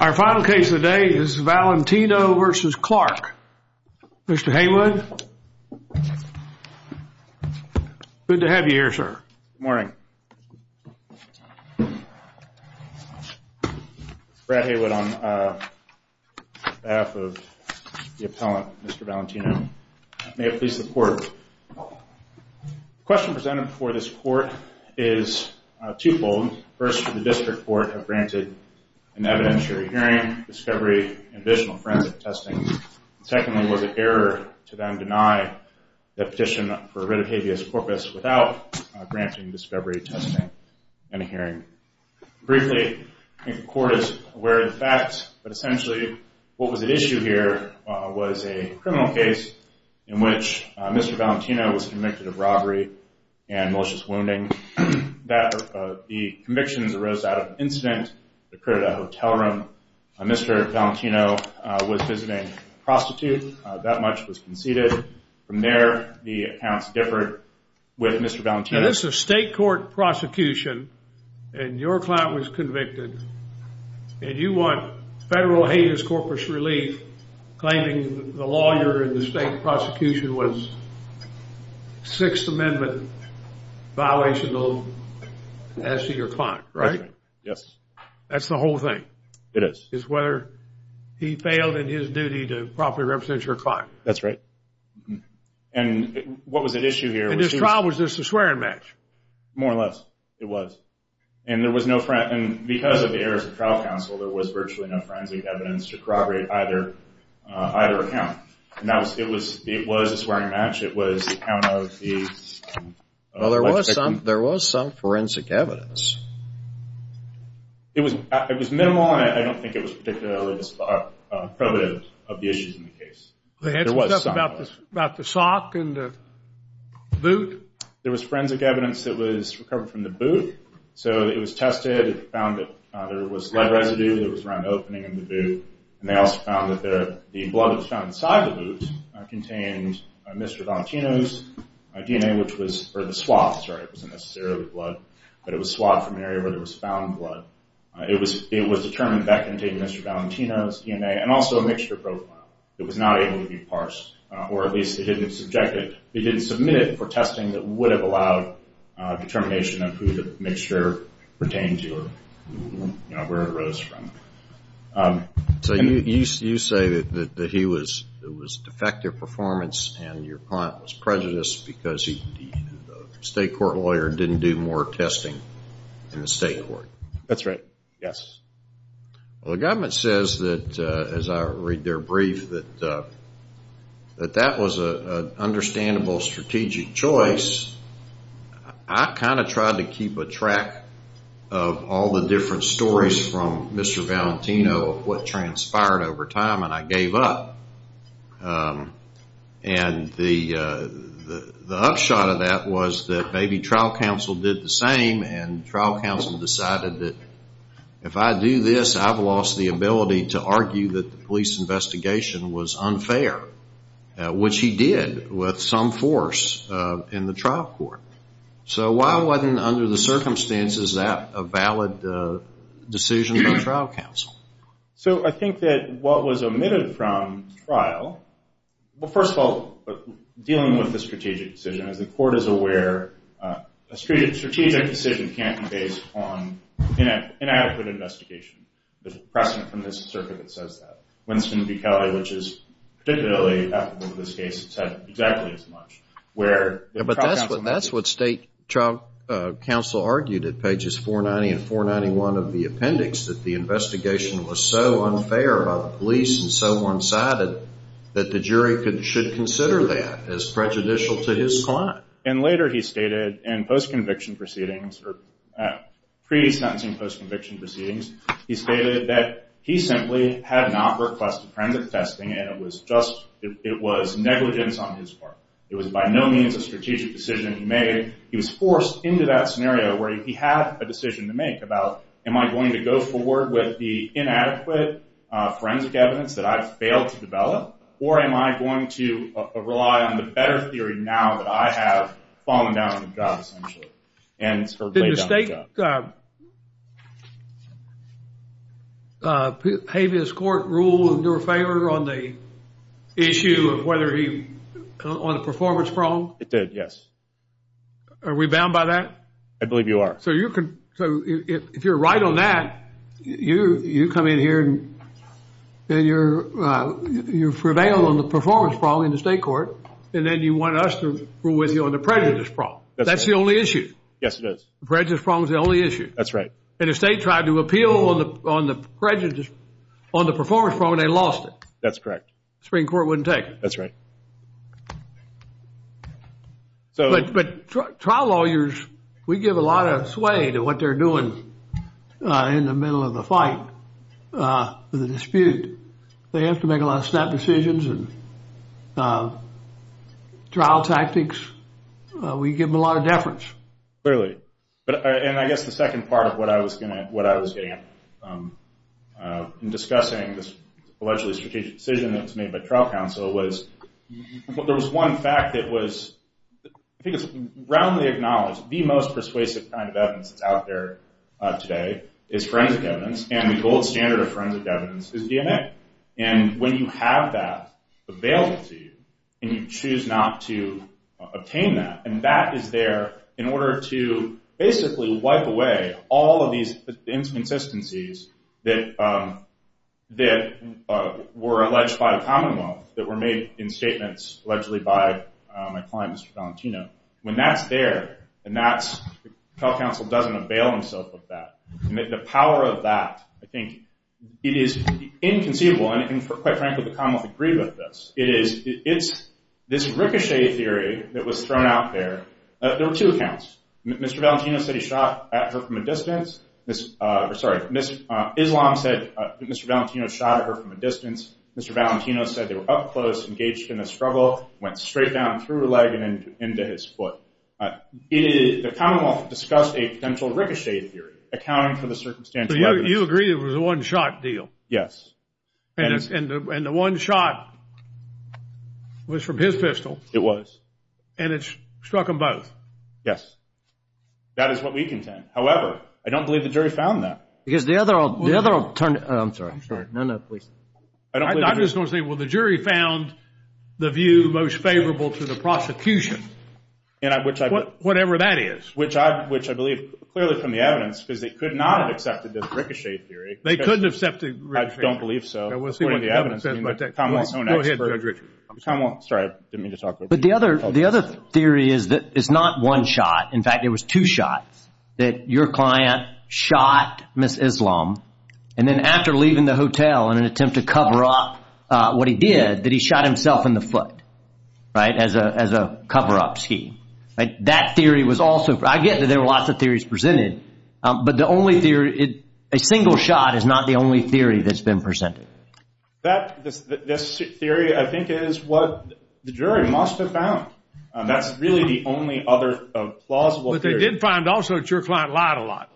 Our final case of the day is Valentino v. Clarke. Mr. Haywood. Good to have you here, sir. Good morning. Brad Haywood on behalf of the appellant, Mr. Valentino. May it please the court. The question presented before this court is twofold. First, did the district court have granted an evidentiary hearing, discovery, and additional forensic testing? Secondly, was it error to then deny the petition for writ of habeas corpus without granting discovery, testing, and a hearing? Briefly, I think the court is aware of the facts. But essentially, what was at issue here was a criminal case in which Mr. Valentino was convicted of robbery and malicious wounding. The convictions arose out of an incident that occurred at a hotel room. Mr. Valentino was visiting a prostitute. That much was conceded. From there, the accounts differed with Mr. Valentino. Now, this is a state court prosecution, and your client was convicted. And you want federal habeas corpus relief, claiming the lawyer in the state prosecution was Sixth Amendment violational as to your client, right? That's right. Yes. That's the whole thing. It is. It's whether he failed in his duty to properly represent your client. That's right. And what was at issue here? And this trial, was this a swearing match? More or less. It was. And because of the errors of trial counsel, there was virtually no forensic evidence to corroborate either account. Now, it was a swearing match. It was the account of the- Well, there was some forensic evidence. It was minimal, and I don't think it was particularly prohibitive of the issues in the case. They had some stuff about the sock and the boot? There was forensic evidence that was recovered from the boot. So it was tested. It found that there was lead residue that was around the opening of the boot. And they also found that the blood that was found inside the boot contained Mr. Valentino's DNA, which was for the swab. Sorry, it wasn't necessarily blood, but it was swabbed from an area where there was found blood. It was determined that contained Mr. Valentino's DNA and also a mixture profile. It was not able to be parsed, or at least it didn't submit it for testing that would have allowed determination of who the mixture pertained to or where it arose from. So you say that it was defective performance and your client was prejudiced because the state court lawyer didn't do more testing in the state court? That's right, yes. Well, the government says that, as I read their brief, that that was an understandable strategic choice. I kind of tried to keep a track of all the different stories from Mr. Valentino of what transpired over time, and I gave up. And the upshot of that was that maybe trial counsel did the same and trial counsel decided that if I do this, I've lost the ability to argue that the police investigation was unfair, which he did with some force in the trial court. So why wasn't, under the circumstances, that a valid decision by trial counsel? So I think that what was omitted from trial, well, first of all, dealing with the strategic decision. As the court is aware, a strategic decision can't be based on inadequate investigation. There's a precedent from this circuit that says that. Winston B. Kelly, which is particularly applicable to this case, said exactly as much. But that's what state trial counsel argued at pages 490 and 491 of the appendix, that the investigation was so unfair by the police and so one-sided that the jury should consider that as prejudicial to his client. And later he stated in post-conviction proceedings, or pre-sentencing post-conviction proceedings, he stated that he simply had not requested forensic testing and it was negligence on his part. It was by no means a strategic decision he made. He was forced into that scenario where he had a decision to make about, am I going to go forward with the inadequate forensic evidence that I've failed to develop? Or am I going to rely on the better theory now that I have fallen down the drop, essentially? Did the state habeas court rule in your favor on the performance problem? It did, yes. Are we bound by that? I believe you are. So if you're right on that, you come in here and you prevail on the performance problem in the state court, and then you want us to rule with you on the prejudice problem. That's the only issue. Yes, it is. The prejudice problem is the only issue. That's right. And if the state tried to appeal on the prejudice, on the performance problem, they lost it. That's correct. The Supreme Court wouldn't take it. That's right. But trial lawyers, we give a lot of sway to what they're doing in the middle of the fight, the dispute. They have to make a lot of snap decisions and trial tactics. We give them a lot of deference. Clearly. And I guess the second part of what I was getting at in discussing this allegedly strategic decision that was made by trial counsel was there was one fact that was, I think it's roundly acknowledged, the most persuasive kind of evidence that's out there today is forensic evidence, and the gold standard of forensic evidence is DNA. And when you have that available to you and you choose not to obtain that, and that is there in order to basically wipe away all of these inconsistencies that were alleged by the Commonwealth, that were made in statements allegedly by my client, Mr. Valentino, when that's there and trial counsel doesn't avail himself of that, the power of that, I think it is inconceivable. And quite frankly, the Commonwealth agreed with this. It's this ricochet theory that was thrown out there. There were two accounts. Mr. Valentino said he shot at her from a distance. Sorry. Ms. Islam said Mr. Valentino shot at her from a distance. Mr. Valentino said they were up close, engaged in a struggle, went straight down through her leg and into his foot. The Commonwealth discussed a potential ricochet theory, accounting for the circumstantial evidence. So you agree it was a one-shot deal? Yes. And the one shot was from his pistol? It was. And it struck them both? Yes. That is what we contend. However, I don't believe the jury found that. I'm sorry. I'm sorry. No, no, please. I'm just going to say, well, the jury found the view most favorable to the prosecution. Whatever that is. Which I believe clearly from the evidence, because they could not have accepted the ricochet theory. They couldn't have accepted the ricochet theory. I don't believe so. We'll see what the evidence says. Go ahead, Judge Richard. I'm sorry. I didn't mean to talk over you. But the other theory is that it's not one shot. In fact, it was two shots. That your client shot Ms. Islam. And then after leaving the hotel in an attempt to cover up what he did, that he shot himself in the foot. Right? As a cover-up scheme. That theory was also. I get that there were lots of theories presented. But the only theory. A single shot is not the only theory that's been presented. This theory, I think, is what the jury must have found. That's really the only other plausible theory. But they did find also that your client lied a lot.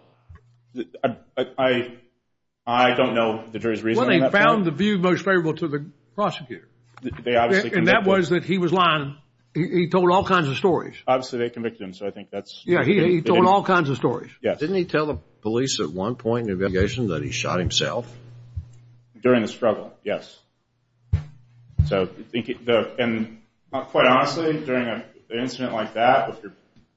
I don't know the jury's reasoning. Well, they found the view most favorable to the prosecutor. And that was that he was lying. He told all kinds of stories. Obviously, they convicted him, so I think that's. Yeah, he told all kinds of stories. Yes. Didn't he tell the police at one point in the investigation that he shot himself? During the struggle, yes. And quite honestly, during an incident like that, if you're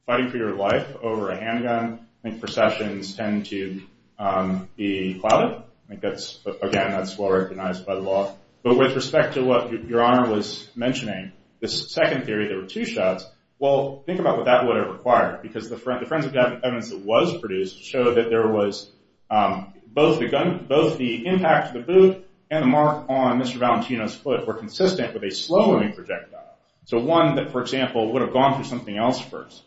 fighting for your life over a handgun, I think processions tend to be clouded. Again, that's well-recognized by the law. But with respect to what Your Honor was mentioning, this second theory, there were two shots. Well, think about what that would have required. Because the forensic evidence that was produced showed that there was both the impact of the boot and the mark on Mr. Valentino's foot were consistent with a slow-moving projectile, so one that, for example, would have gone through something else first.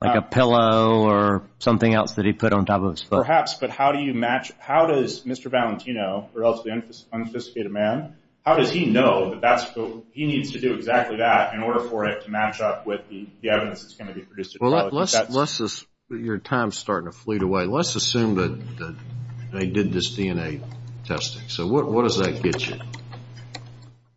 Like a pillow or something else that he put on top of his foot? Perhaps, but how do you match? How does Mr. Valentino, a relatively unsophisticated man, how does he know that he needs to do exactly that in order for it to match up with the evidence that's going to be produced? Well, your time is starting to fleet away. Let's assume that they did this DNA testing. So what does that get you?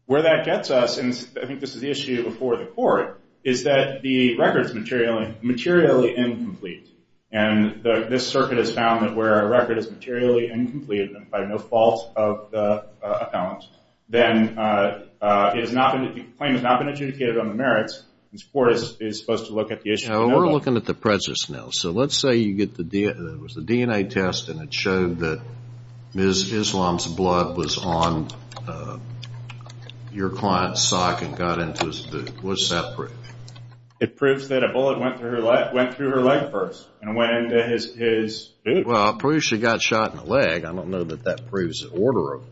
Where that gets us, and I think this is the issue before the court, is that the record is materially incomplete. And this circuit has found that where a record is materially incomplete and by no fault of the appellant, then the claim has not been adjudicated on the merits, and the court is supposed to look at the issue. We're looking at the presence now. So let's say you get the DNA test and it showed that Ms. Islam's blood was on your client's sock and got into his boot. What does that prove? It proves that a bullet went through her leg first and went into his boot. Well, it proves she got shot in the leg. I don't know that that proves the order of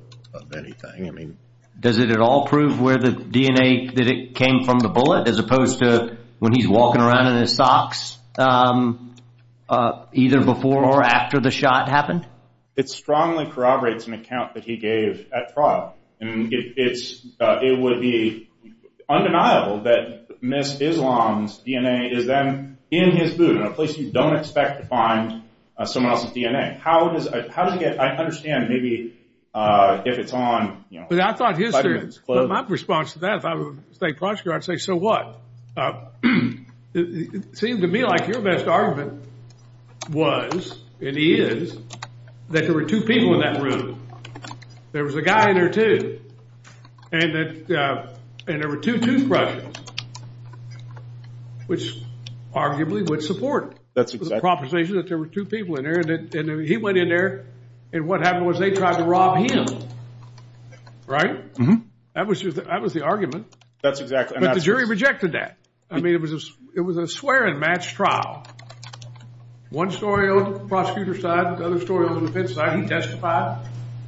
anything. Does it at all prove where the DNA, that it came from the bullet, as opposed to when he's walking around in his socks either before or after the shot happened? It strongly corroborates an account that he gave at trial. It would be undeniable that Ms. Islam's DNA is then in his boot, in a place you don't expect to find someone else's DNA. I understand maybe if it's on, you know, But my response to that, if I were State Prosecutor, I'd say, so what? It seemed to me like your best argument was and is that there were two people in that room. There was a guy and there were two, and there were two toothbrushes, which arguably would support the proposition that there were two people in there and he went in there and what happened was they tried to rob him, right? That was the argument. That's exactly. But the jury rejected that. I mean, it was a swear and match trial. One story on the prosecutor's side, the other story on the defense side. He testified.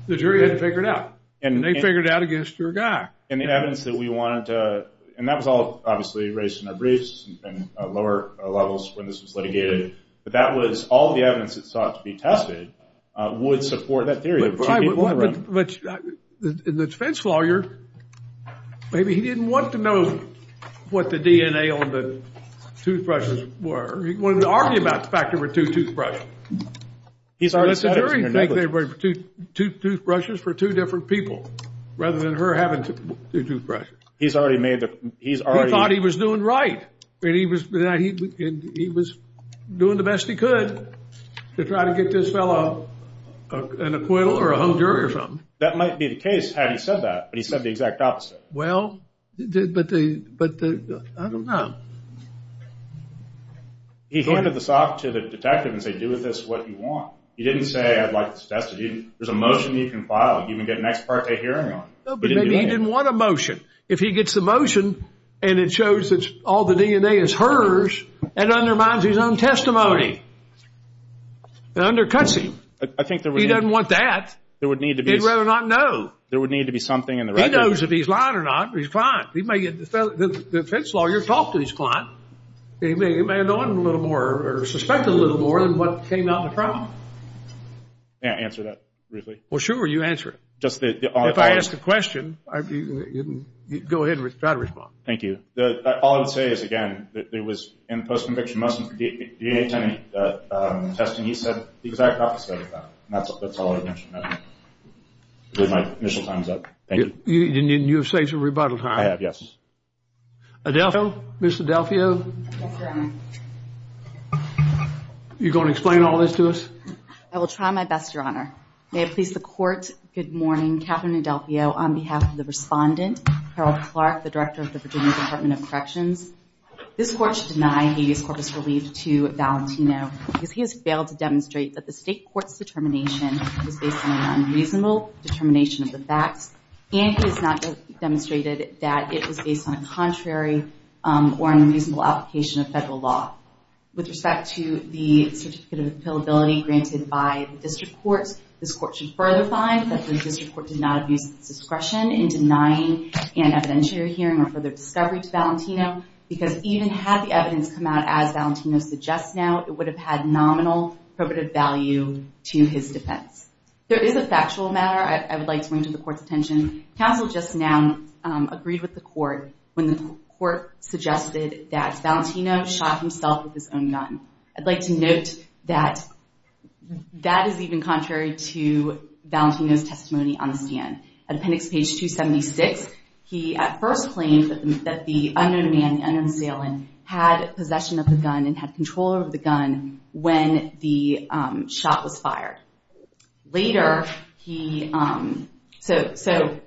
The jury had to figure it out, and they figured it out against your guy. And the evidence that we wanted to, and that was all obviously raised in our briefs and lower levels when this was litigated. But that was all the evidence that sought to be tested would support that theory. But the defense lawyer, maybe he didn't want to know what the DNA on the toothbrushes were. He wanted to argue about the fact there were two toothbrushes. He's already said it. The jury thinks there were two toothbrushes for two different people rather than her having two toothbrushes. He's already made the, he's already. He thought he was doing right. He was doing the best he could to try to get this fellow an acquittal or a whole jury or something. That might be the case had he said that, but he said the exact opposite. Well, but the, I don't know. He pointed this off to the detective and said, do with this what you want. He didn't say, I'd like this tested. There's a motion you can file. You can get an ex parte hearing on it. Maybe he didn't want a motion. If he gets the motion and it shows that all the DNA is hers, that undermines his own testimony. It undercuts him. I think there would be. He doesn't want that. There would need to be. He'd rather not know. There would need to be something in the record. He knows if he's lying or not. He's fine. The defense lawyer talked and he's fine. He may have known a little more or suspected a little more than what came out in the trial. May I answer that briefly? Well, sure. You answer it. If I ask a question, go ahead and try to respond. Thank you. All I would say is, again, there was in the post-conviction motion DNA testing. He said the exact opposite of that. That's all I would mention. My initial time is up. Thank you. And you have safe to rebuttal time? I have, yes. Adelphio, Ms. Adelphio. Yes, Your Honor. Are you going to explain all this to us? I will try my best, Your Honor. May it please the Court, good morning. Katherine Adelphio on behalf of the respondent, Harold Clark, the Director of the Virginia Department of Corrections. This Court should deny habeas corpus relieved to Valentino because he has failed to demonstrate that the State Court's determination was based on an unreasonable determination of the facts, and he has not demonstrated that it was based on a contrary or unreasonable application of federal law. With respect to the certificate of appealability granted by the District Courts, this Court should further find that the District Court did not abuse its discretion in denying an evidentiary hearing or further discovery to Valentino because even had the evidence come out as Valentino suggests now, it would have had nominal probative value to his defense. There is a factual matter I would like to bring to the Court's attention. Counsel just now agreed with the Court when the Court suggested that Valentino shot himself with his own gun. I'd like to note that that is even contrary to Valentino's testimony on the stand. At appendix page 276, he at first claimed that the unknown man, the unknown assailant, had possession of the gun and had control over the gun when the shot was fired. So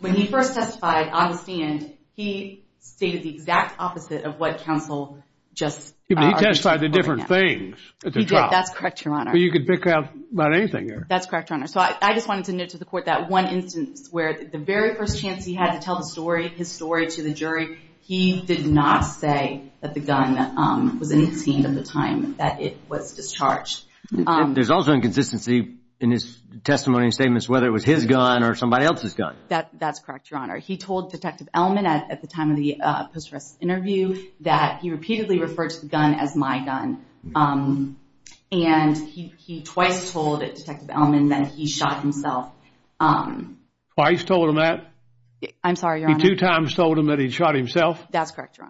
when he first testified on the stand, he stated the exact opposite of what counsel just argued. He testified to different things at the trial. He did. That's correct, Your Honor. But you could pick out about anything there. That's correct, Your Honor. So I just wanted to note to the Court that one instance where the very first chance he had to tell the story, his story to the jury, he did not say that the gun was in his hand at the time that it was discharged. There's also inconsistency in his testimony and statements, whether it was his gun or somebody else's gun. That's correct, Your Honor. He told Detective Elman at the time of the post-arrest interview that he repeatedly referred to the gun as my gun. And he twice told Detective Elman that he shot himself. Twice told him that? I'm sorry, Your Honor. He two times told him that he shot himself? That's correct, Your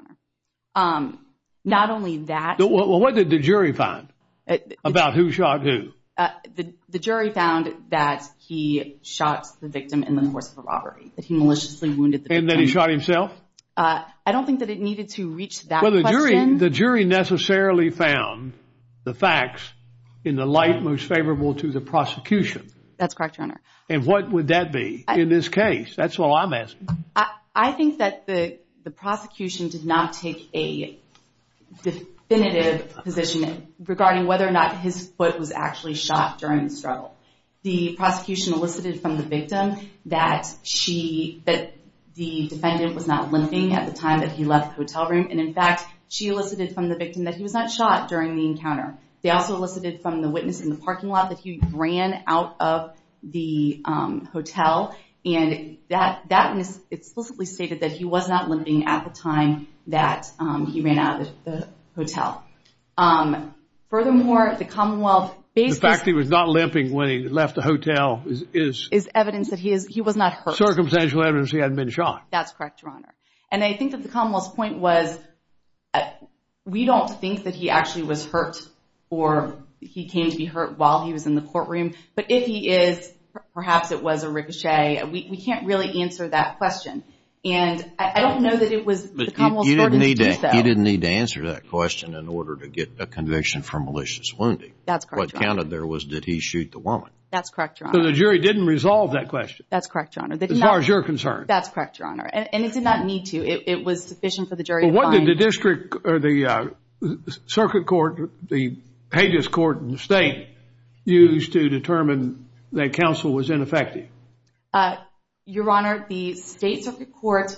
Honor. Not only that. What did the jury find about who shot who? The jury found that he shot the victim in the course of a robbery, that he maliciously wounded the victim. And that he shot himself? I don't think that it needed to reach that question. The jury necessarily found the facts in the light most favorable to the prosecution? That's correct, Your Honor. And what would that be in this case? That's all I'm asking. I think that the prosecution did not take a definitive position regarding whether or not his foot was actually shot during the struggle. The prosecution elicited from the victim that she, that the defendant was not limping at the time that he left the hotel room. And, in fact, she elicited from the victim that he was not shot during the encounter. They also elicited from the witness in the parking lot that he ran out of the hotel. And that explicitly stated that he was not limping at the time that he ran out of the hotel. Furthermore, the Commonwealth based this. That he was not limping when he left the hotel is? Is evidence that he was not hurt. Circumstantial evidence he hadn't been shot. That's correct, Your Honor. And I think that the Commonwealth's point was we don't think that he actually was hurt or he came to be hurt while he was in the courtroom. But if he is, perhaps it was a ricochet. We can't really answer that question. And I don't know that it was the Commonwealth's burden to do so. You didn't need to answer that question in order to get a conviction for malicious wounding. That's correct, Your Honor. What counted there was did he shoot the woman. That's correct, Your Honor. So the jury didn't resolve that question. That's correct, Your Honor. As far as you're concerned. That's correct, Your Honor. And it did not need to. It was sufficient for the jury to find. Well, what did the district or the circuit court, the Hague's court in the state, use to determine that counsel was ineffective? Your Honor, the state circuit court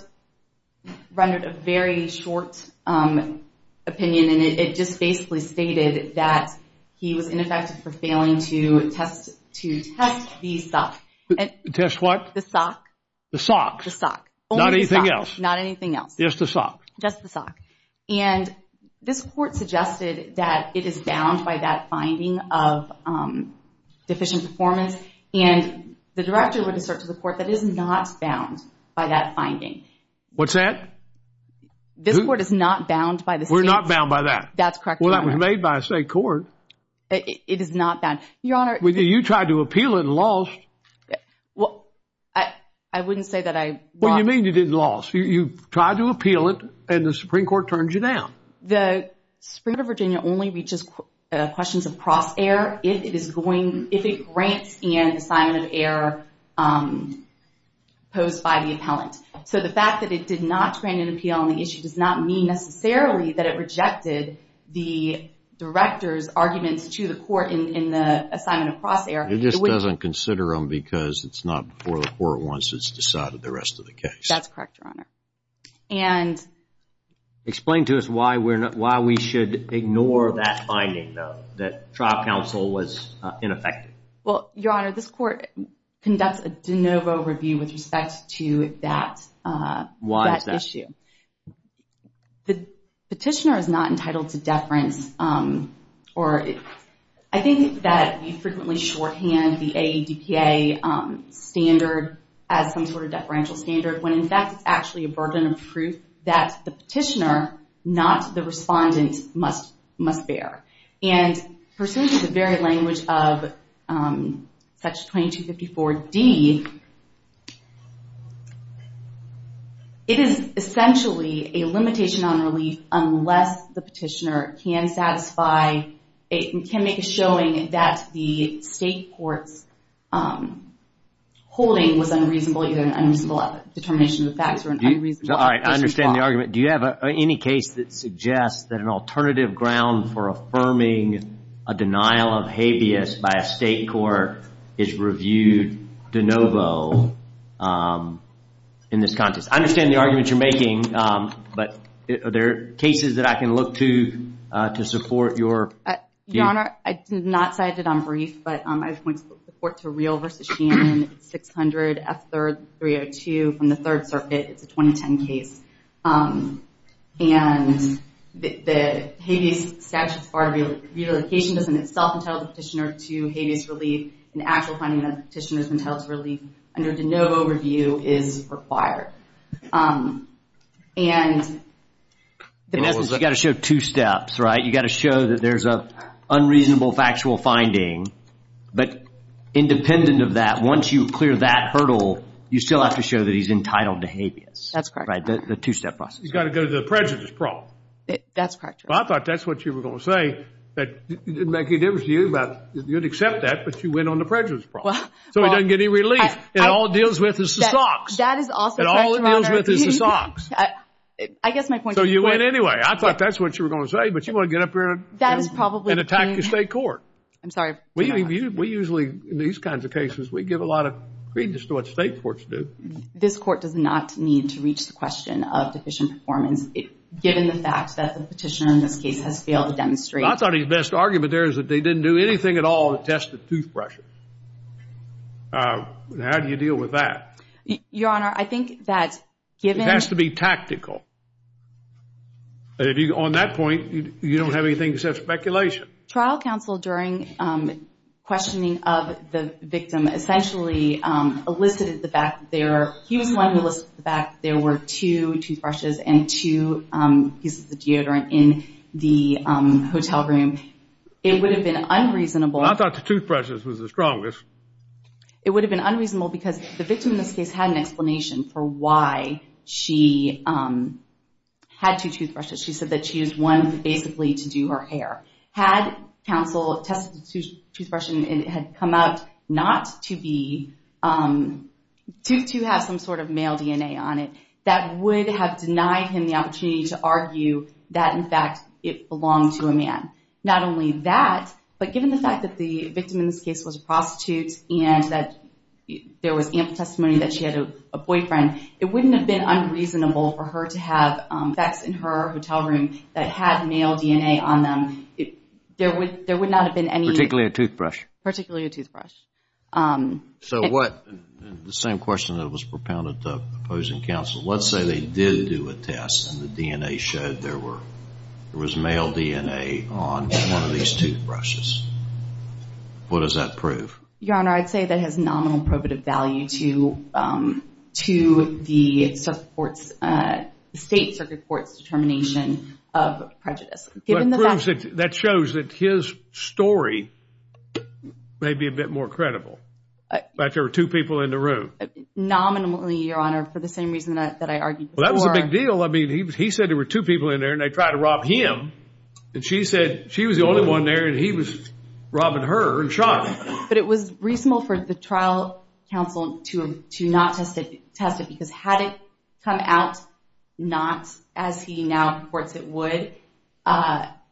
rendered a very short opinion. And it just basically stated that he was ineffective for failing to test the sock. Test what? The sock. The sock. The sock. Not anything else. Not anything else. Just the sock. Just the sock. And this court suggested that it is bound by that finding of deficient performance. And the director would assert to the court that it is not bound by that finding. What's that? This court is not bound by the state. We're not bound by that. That's correct, Your Honor. Well, that was made by a state court. It is not bound. Your Honor. You tried to appeal it and lost. Well, I wouldn't say that I lost. What do you mean you didn't lose? You tried to appeal it and the Supreme Court turned you down. The Supreme Court of Virginia only reaches questions of cross-error if it grants an assignment of error posed by the appellant. So the fact that it did not grant an appeal on the issue does not mean necessarily that it rejected the director's arguments to the court in the assignment of cross-error. It just doesn't consider them because it's not before the court once it's decided the rest of the case. That's correct, Your Honor. And explain to us why we should ignore that finding, though, that trial counsel was ineffective. Well, Your Honor, this court conducts a de novo review with respect to that issue. Why is that? The petitioner is not entitled to deference or I think that we frequently shorthand the AEDPA standard as some sort of deferential standard when, in fact, it's actually a burden of proof that the petitioner, not the respondent, must bear. And pursuant to the very language of section 2254D, it is essentially a limitation on relief unless the petitioner can satisfy and can make a showing that the State court's holding was unreasonable, either an unreasonable determination of the facts or an unreasonable I understand the argument. Do you have any case that suggests that an alternative ground for affirming a denial of habeas by a State court is reviewed de novo in this context? I understand the argument you're making, but are there cases that I can look to to support your view? And the habeas statute's part of the reallocation doesn't itself entitle the petitioner to habeas relief. An actual finding that a petitioner is entitled to relief under de novo review is required. And... In essence, you've got to show two steps, right? You've got to show that there's an unreasonable factual finding. But independent of that, once you clear that hurdle, you still have to show that he's entitled to habeas. That's correct. Right, the two-step process. You've got to go to the prejudice problem. That's correct. Well, I thought that's what you were going to say. It didn't make any difference to you. You'd accept that, but you went on the prejudice problem. So he doesn't get any relief. And all it deals with is the socks. That is also correct, Your Honor. And all it deals with is the socks. I guess my point is... So you went anyway. I thought that's what you were going to say, but you want to get up here and... That is probably... And attack the State court. I'm sorry. We usually, in these kinds of cases, we give a lot of credence to what State courts do. This Court does not need to reach the question of deficient performance, given the fact that the petitioner in this case has failed to demonstrate... I thought his best argument there is that they didn't do anything at all to test the toothbrushes. How do you deal with that? Your Honor, I think that given... It has to be tactical. On that point, you don't have anything except speculation. Trial counsel, during questioning of the victim, essentially elicited the fact that there were two toothbrushes and two pieces of deodorant in the hotel room. It would have been unreasonable... I thought the toothbrushes was the strongest. It would have been unreasonable because the victim in this case had an explanation for why she had two toothbrushes. She said that she used one basically to do her hair. Had counsel tested the toothbrush and it had come out not to be... to have some sort of male DNA on it, that would have denied him the opportunity to argue that, in fact, it belonged to a man. Not only that, but given the fact that the victim in this case was a prostitute and that there was ample testimony that she had a boyfriend, it wouldn't have been unreasonable for her to have facts in her hotel room that had male DNA on them. There would not have been any... Particularly a toothbrush. Particularly a toothbrush. The same question that was propounded to opposing counsel. Let's say they did do a test and the DNA showed there was male DNA on one of these toothbrushes. What does that prove? Your Honor, I'd say that has nominal probative value to the state circuit court's determination of prejudice, given the fact... That proves it. That shows that his story may be a bit more credible. That there were two people in the room. Nominally, Your Honor, for the same reason that I argued before. Well, that was a big deal. I mean, he said there were two people in there and they tried to rob him. And she said she was the only one there and he was robbing her and shot her. But it was reasonable for the trial counsel to not test it because had it come out not as he now reports it would,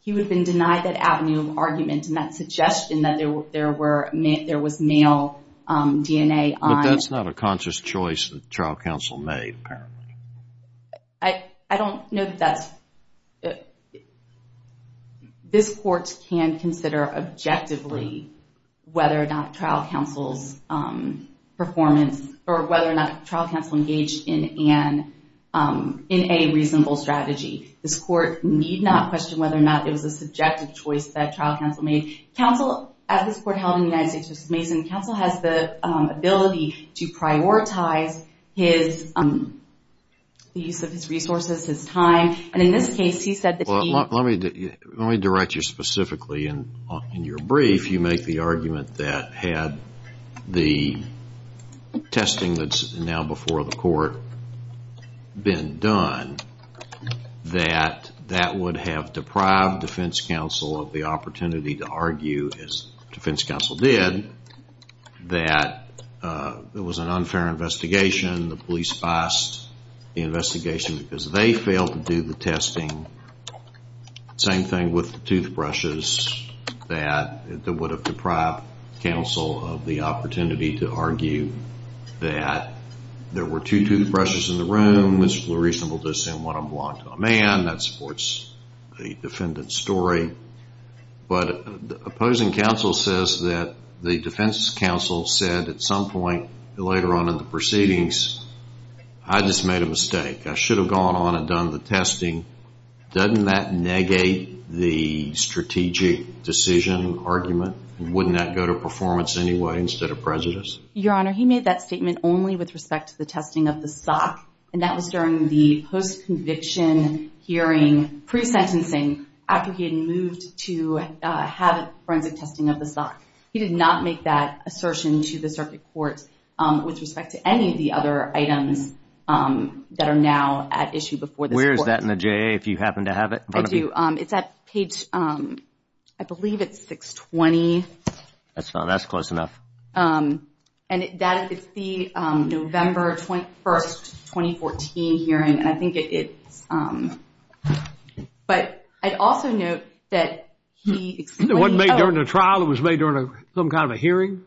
he would have been denied that avenue of argument and that suggestion that there was male DNA on... But that's not a conscious choice that the trial counsel made, apparently. I don't know that that's... This court can consider objectively whether or not trial counsel's performance or whether or not trial counsel engaged in a reasonable strategy. This court need not question whether or not it was a subjective choice that trial counsel made. As this court held in the United States versus Mason, counsel has the ability to prioritize the use of his resources, his time. And in this case, he said that he... Let me direct you specifically. In your brief, you make the argument that had the testing that's now before the court been done, that that would have deprived defense counsel of the opportunity to argue, as defense counsel did, that it was an unfair investigation. The police biased the investigation because they failed to do the testing. Same thing with the toothbrushes, that it would have deprived counsel of the opportunity to argue that there were two toothbrushes in the room, it's reasonable to assume one belonged to a man, that supports the defendant's story. But opposing counsel says that the defense counsel said at some point later on in the proceedings, I just made a mistake. I should have gone on and done the testing. Doesn't that negate the strategic decision argument? Wouldn't that go to performance anyway instead of prejudice? Your Honor, he made that statement only with respect to the testing of the sock, and that was during the post-conviction hearing, pre-sentencing, after he had moved to have forensic testing of the sock. He did not make that assertion to the circuit court with respect to any of the other items that are now at issue before the court. Where is that in the JA if you happen to have it? I do. It's at page, I believe it's 620. That's close enough. And it's the November 21, 2014 hearing, and I think it's – but I'd also note that he explained – It wasn't made during the trial. It was made during some kind of a hearing.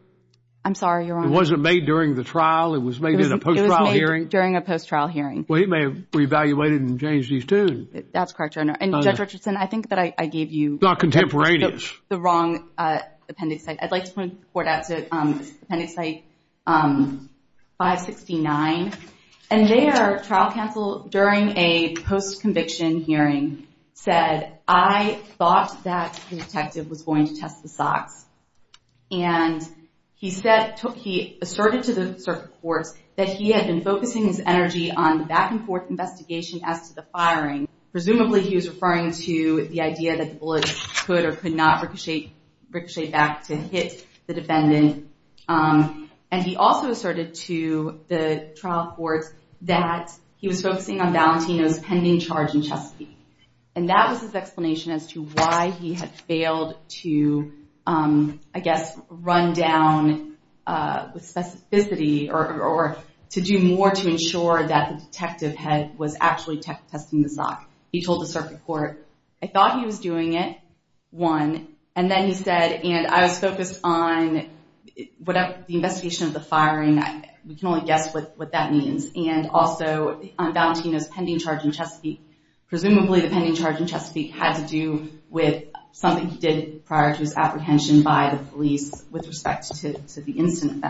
I'm sorry, Your Honor. It wasn't made during the trial. It was made in a post-trial hearing. It was made during a post-trial hearing. Well, he may have reevaluated and changed his tune. That's correct, Your Honor. And Judge Richardson, I think that I gave you – Not contemporaneous. The wrong appendix. I'd like to point the court out to appendix 569. And there, trial counsel, during a post-conviction hearing, said, I thought that the detective was going to test the socks. And he asserted to the circuit courts that he had been focusing his energy on the back-and-forth investigation as to the firing. Presumably, he was referring to the idea that the bullets could or could not ricochet back to hit the defendant. And he also asserted to the trial courts that he was focusing on Valentino's pending charge in Chesapeake. And that was his explanation as to why he had failed to, I guess, run down with specificity or to do more to ensure that the detective was actually testing the sock. He told the circuit court, I thought he was doing it, one. And then he said, and I was focused on the investigation of the firing. We can only guess what that means. And also on Valentino's pending charge in Chesapeake. Presumably, the pending charge in Chesapeake had to do with something he did prior to his apprehension by the police with respect to the incident.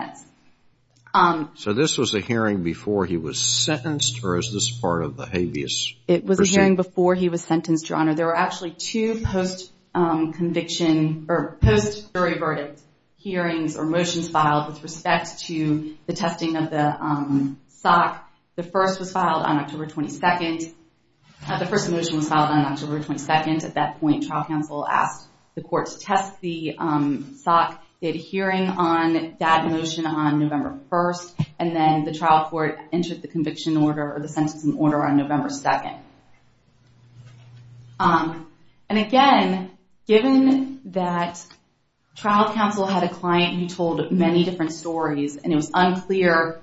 So this was a hearing before he was sentenced, or is this part of the habeas procedure? It was a hearing before he was sentenced, Your Honor. There were actually two post-conviction or post-jury verdict hearings or motions filed with respect to the testing of the sock. The first was filed on October 22nd. The first motion was filed on October 22nd. At that point, trial counsel asked the court to test the sock. They had a hearing on that motion on November 1st. And then the trial court entered the conviction order, or the sentencing order, on November 2nd. And again, given that trial counsel had a client who told many different stories, and it was unclear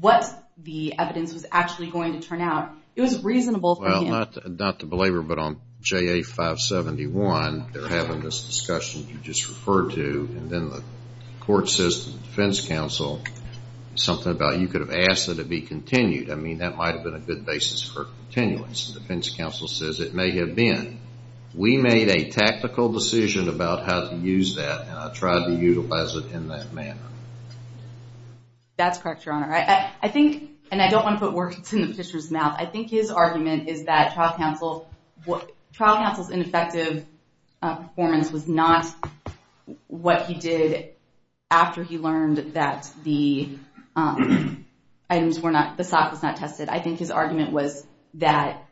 what the evidence was actually going to turn out, it was reasonable for him. Well, not to belabor, but on JA571, they're having this discussion you just referred to, and then the court says to the defense counsel something about you could have asked it to be continued. I mean, that might have been a good basis for continuance. The defense counsel says it may have been. We made a tactical decision about how to use that, and I tried to utilize it in that manner. That's correct, Your Honor. I think, and I don't want to put words in the petitioner's mouth, I think his argument is that trial counsel's ineffective performance was not what he did after he learned that the items were not, the SOC was not tested. I think his argument was that,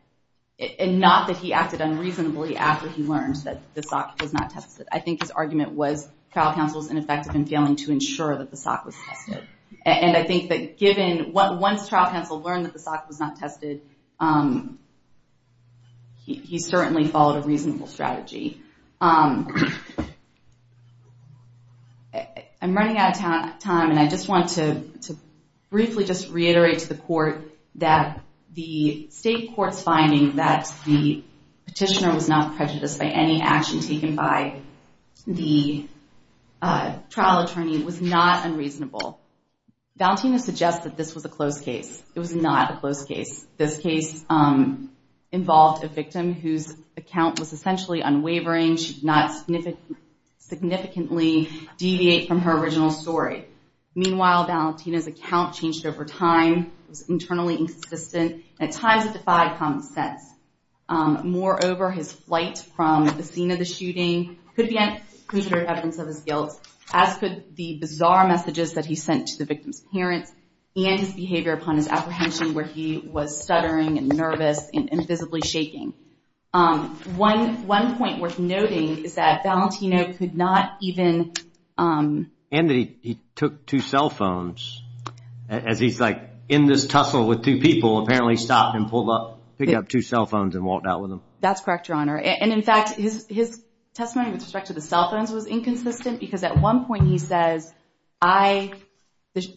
and not that he acted unreasonably after he learned that the SOC was not tested. I think his argument was trial counsel's ineffective in failing to ensure that the SOC was tested. And I think that given, once trial counsel learned that the SOC was not tested, he certainly followed a reasonable strategy. I'm running out of time, and I just want to briefly just reiterate to the court that the state court's finding that the petitioner was not prejudiced by any action taken by the trial attorney was not unreasonable. Valentina suggests that this was a close case. It was not a close case. This case involved a victim whose account was essentially unwavering. She did not significantly deviate from her original story. Meanwhile, Valentina's account changed over time. It was internally inconsistent, and at times it defied common sense. Moreover, his flight from the scene of the shooting could be considered evidence of his guilt, as could the bizarre messages that he sent to the victim's parents and his behavior upon his apprehension, where he was stuttering and nervous and visibly shaking. One point worth noting is that Valentina could not even... And that he took two cell phones, as he's like in this tussle with two people, apparently stopped and picked up two cell phones and walked out with them. That's correct, Your Honor. And in fact, his testimony with respect to the cell phones was inconsistent because at one point he says, the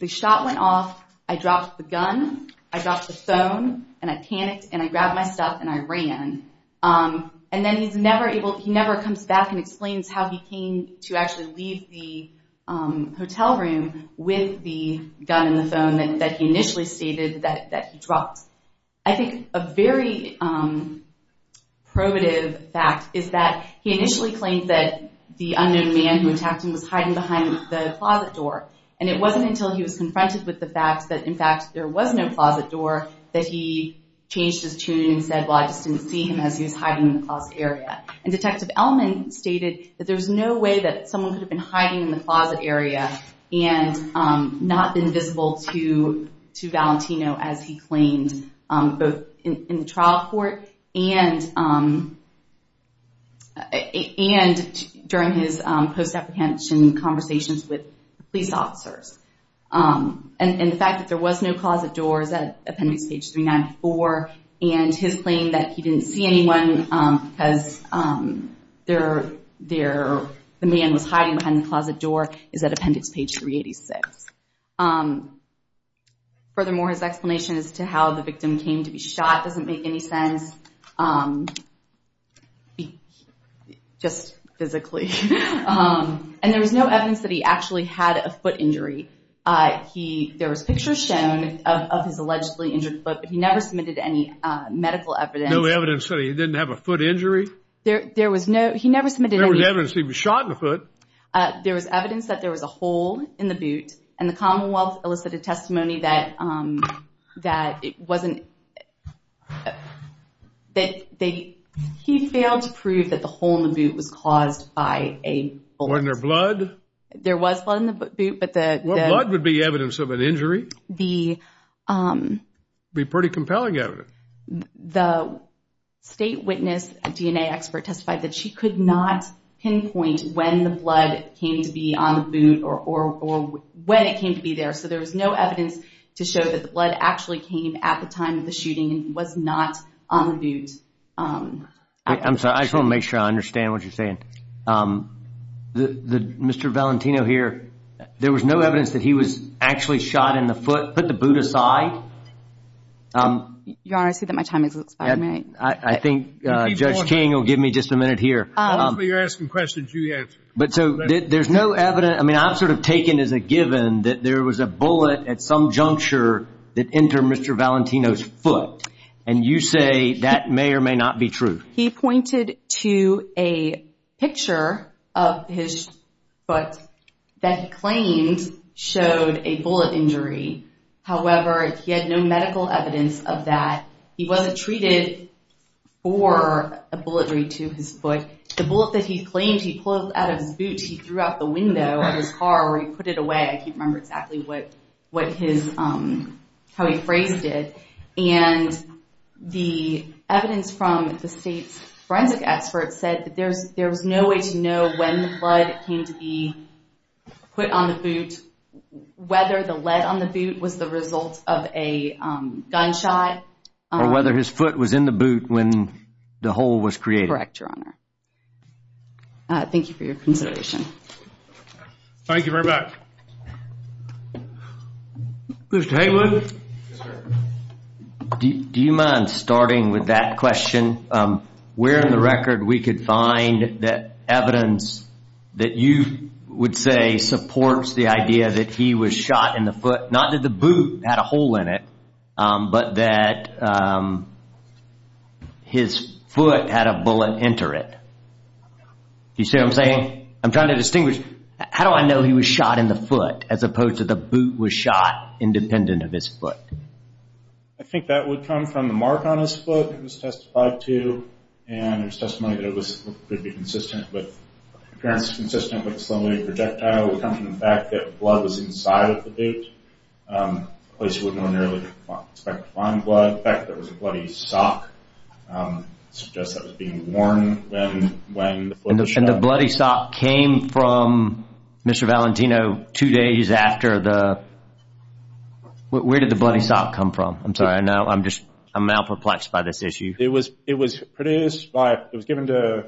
shot went off, I dropped the gun, I dropped the phone, and I panicked and I grabbed my stuff and I ran. And then he never comes back and explains how he came to actually leave the hotel room with the gun in the phone that he initially stated that he dropped. I think a very probative fact is that he initially claimed that the unknown man who attacked him was hiding behind the closet door. And it wasn't until he was confronted with the fact that in fact there was no closet door that he changed his tune and said, well, I just didn't see him as he was hiding in the closet area. And Detective Elman stated that there's no way that someone could have been hiding in the closet area and not been visible to Valentino as he claimed, both in the trial court and during his post-apprehension conversations with police officers. And the fact that there was no closet door is at appendix page 394 and his claim that he didn't see anyone because the man was hiding behind the closet door is at appendix page 386. Furthermore, his explanation as to how the victim came to be shot doesn't make any sense, just physically. And there was no evidence that he actually had a foot injury. There was pictures shown of his allegedly injured foot, but he never submitted any medical evidence. No evidence that he didn't have a foot injury? There was evidence he was shot in the foot. There was evidence that there was a hole in the boot and the Commonwealth elicited testimony that it wasn't... He failed to prove that the hole in the boot was caused by a bullet. Wasn't there blood? There was blood in the boot, but the... What blood would be evidence of an injury? It would be pretty compelling evidence. The state witness, a DNA expert, testified that she could not pinpoint when the blood came to be on the boot or when it came to be there, so there was no evidence to show that the blood actually came at the time of the shooting and was not on the boot. I'm sorry. I just want to make sure I understand what you're saying. Mr. Valentino here, there was no evidence that he was actually shot in the foot, put the boot aside? Your Honor, I see that my time has expired. I think Judge King will give me just a minute here. Obviously, you're asking questions you answer. But so there's no evidence. I mean, I'm sort of taken as a given that there was a bullet at some juncture that entered Mr. Valentino's foot, and you say that may or may not be true. He pointed to a picture of his foot that he claimed showed a bullet injury. However, he had no medical evidence of that. He wasn't treated for a bullet injury to his foot. The bullet that he claimed he pulled out of his boot, he threw out the window of his car where he put it away. I can't remember exactly how he phrased it. And the evidence from the state's forensic experts said that there was no way to know when the blood came to be put on the boot, whether the lead on the boot was the result of a gunshot. Or whether his foot was in the boot when the hole was created. Correct, Your Honor. Thank you for your consideration. Thank you very much. Mr. Haywood? Do you mind starting with that question? Where in the record we could find that evidence that you would say supports the idea that he was shot in the foot, not that the boot had a hole in it, but that his foot had a bullet enter it? Do you see what I'm saying? I'm trying to distinguish. How do I know he was shot in the foot as opposed to the boot was shot independent of his foot? I think that would come from the mark on his foot it was testified to. And there's testimony that it could be consistent with, an appearance consistent with a saline projectile. It would come from the fact that blood was inside of the boot, a place you wouldn't ordinarily expect to find blood. The fact that it was a bloody sock suggests that it was being worn when the foot was shot. And the bloody sock came from Mr. Valentino two days after the – where did the bloody sock come from? I'm sorry, I'm malperplexed by this issue. It was produced by – it was given to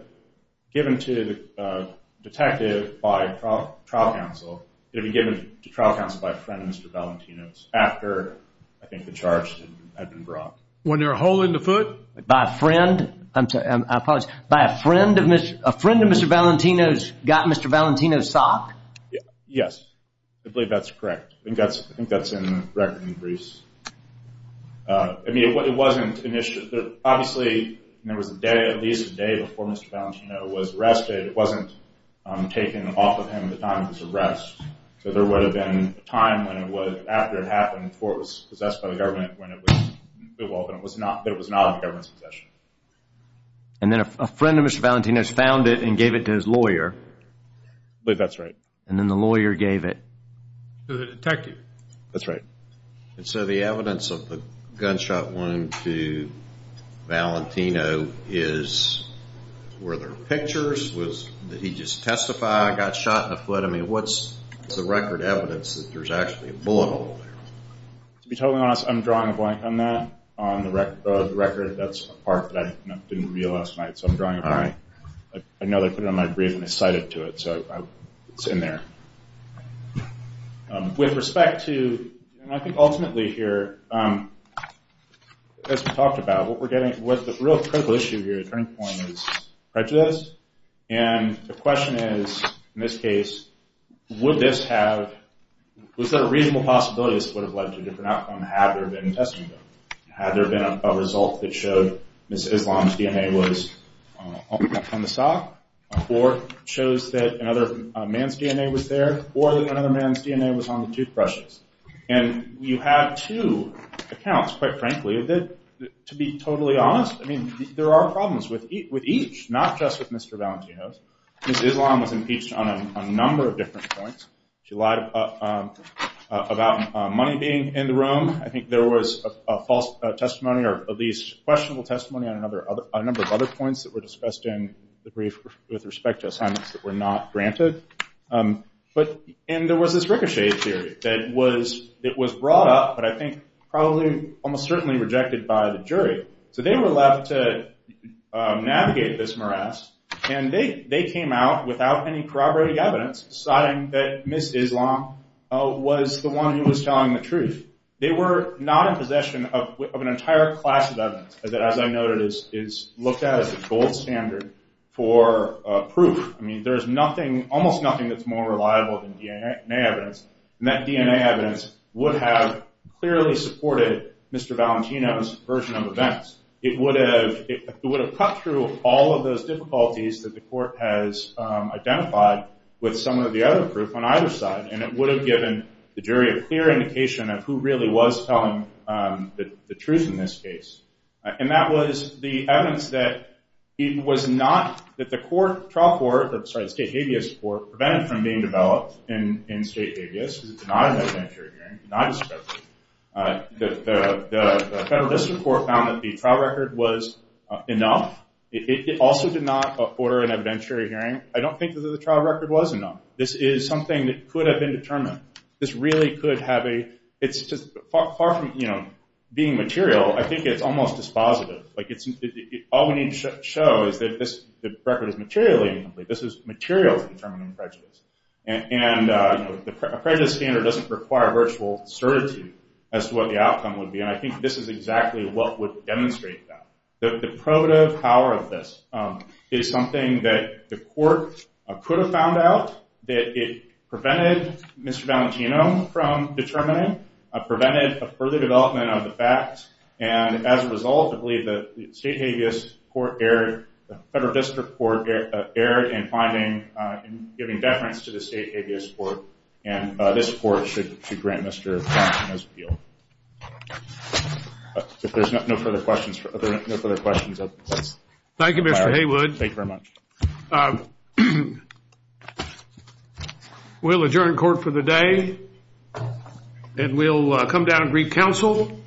the detective by trial counsel. It had been given to trial counsel by a friend of Mr. Valentino's after I think the charge had been brought. When there was a hole in the foot? By a friend? I'm sorry, I apologize. By a friend of Mr. Valentino's got Mr. Valentino's sock? Yes, I believe that's correct. I think that's in the record in Greece. I mean it wasn't initially – obviously there was a day, at least a day before Mr. Valentino was arrested. It wasn't taken off of him at the time of his arrest. So there would have been a time when it would – after it happened before it was possessed by the government that it was not in the government's possession. And then a friend of Mr. Valentino's found it and gave it to his lawyer? I believe that's right. And then the lawyer gave it? To the detective. That's right. And so the evidence of the gunshot wound to Valentino is – were there pictures? Did he just testify he got shot in the foot? I mean what's the record evidence that there's actually a bullet hole there? To be totally honest, I'm drawing a blank on that. On the record, that's a part that I didn't reveal last night, so I'm drawing a blank. I know they put it on my brief and I cited to it, so it's in there. With respect to – and I think ultimately here, as we talked about, what we're getting – the real critical issue here, the turning point, is prejudice. And the question is, in this case, would this have – would this have led to a different outcome had there been testing done? Had there been a result that showed Ms. Islam's DNA was on the sock or shows that another man's DNA was there or that another man's DNA was on the toothbrushes? And you have two accounts, quite frankly, that, to be totally honest, I mean there are problems with each, not just with Mr. Valentino's. Ms. Islam was impeached on a number of different points. She lied about money being in the room. I think there was a false testimony or at least questionable testimony on a number of other points that were discussed in the brief with respect to assignments that were not granted. And there was this ricochet theory that was brought up, but I think probably almost certainly rejected by the jury. So they were left to navigate this morass, and they came out without any corroborating evidence deciding that Ms. Islam was the one who was telling the truth. They were not in possession of an entire class of evidence that, as I noted, is looked at as a gold standard for proof. I mean there is nothing, almost nothing, that's more reliable than DNA evidence, and that DNA evidence would have clearly supported Mr. Valentino's version of events. It would have cut through all of those difficulties that the court has identified with some of the other proof on either side, and it would have given the jury a clear indication of who really was telling the truth in this case. And that was the evidence that he was not, that the court, trial court, sorry, the state habeas court, prevented from being developed in state habeas because it did not have an interior hearing, did not have discretion. The Federal District Court found that the trial record was enough. It also did not order an evidentiary hearing. I don't think that the trial record was enough. This is something that could have been determined. This really could have a, it's just, far from, you know, being material, I think it's almost dispositive. Like it's, all we need to show is that this record is materially incomplete. This is material to determine a prejudice. And, you know, a prejudice standard doesn't require virtual certitude as to what the outcome would be, and I think this is exactly what would demonstrate that. The probative power of this is something that the court could have found out, that it prevented Mr. Valentino from determining, prevented a further development of the facts, and as a result I believe that the state habeas court erred, the Federal District Court erred in finding, in giving deference to the state habeas court, and this court should grant Mr. Valentino's appeal. If there's no further questions. Thank you, Mr. Haywood. Thank you very much. We'll adjourn court for the day, and we'll come down and brief counsel.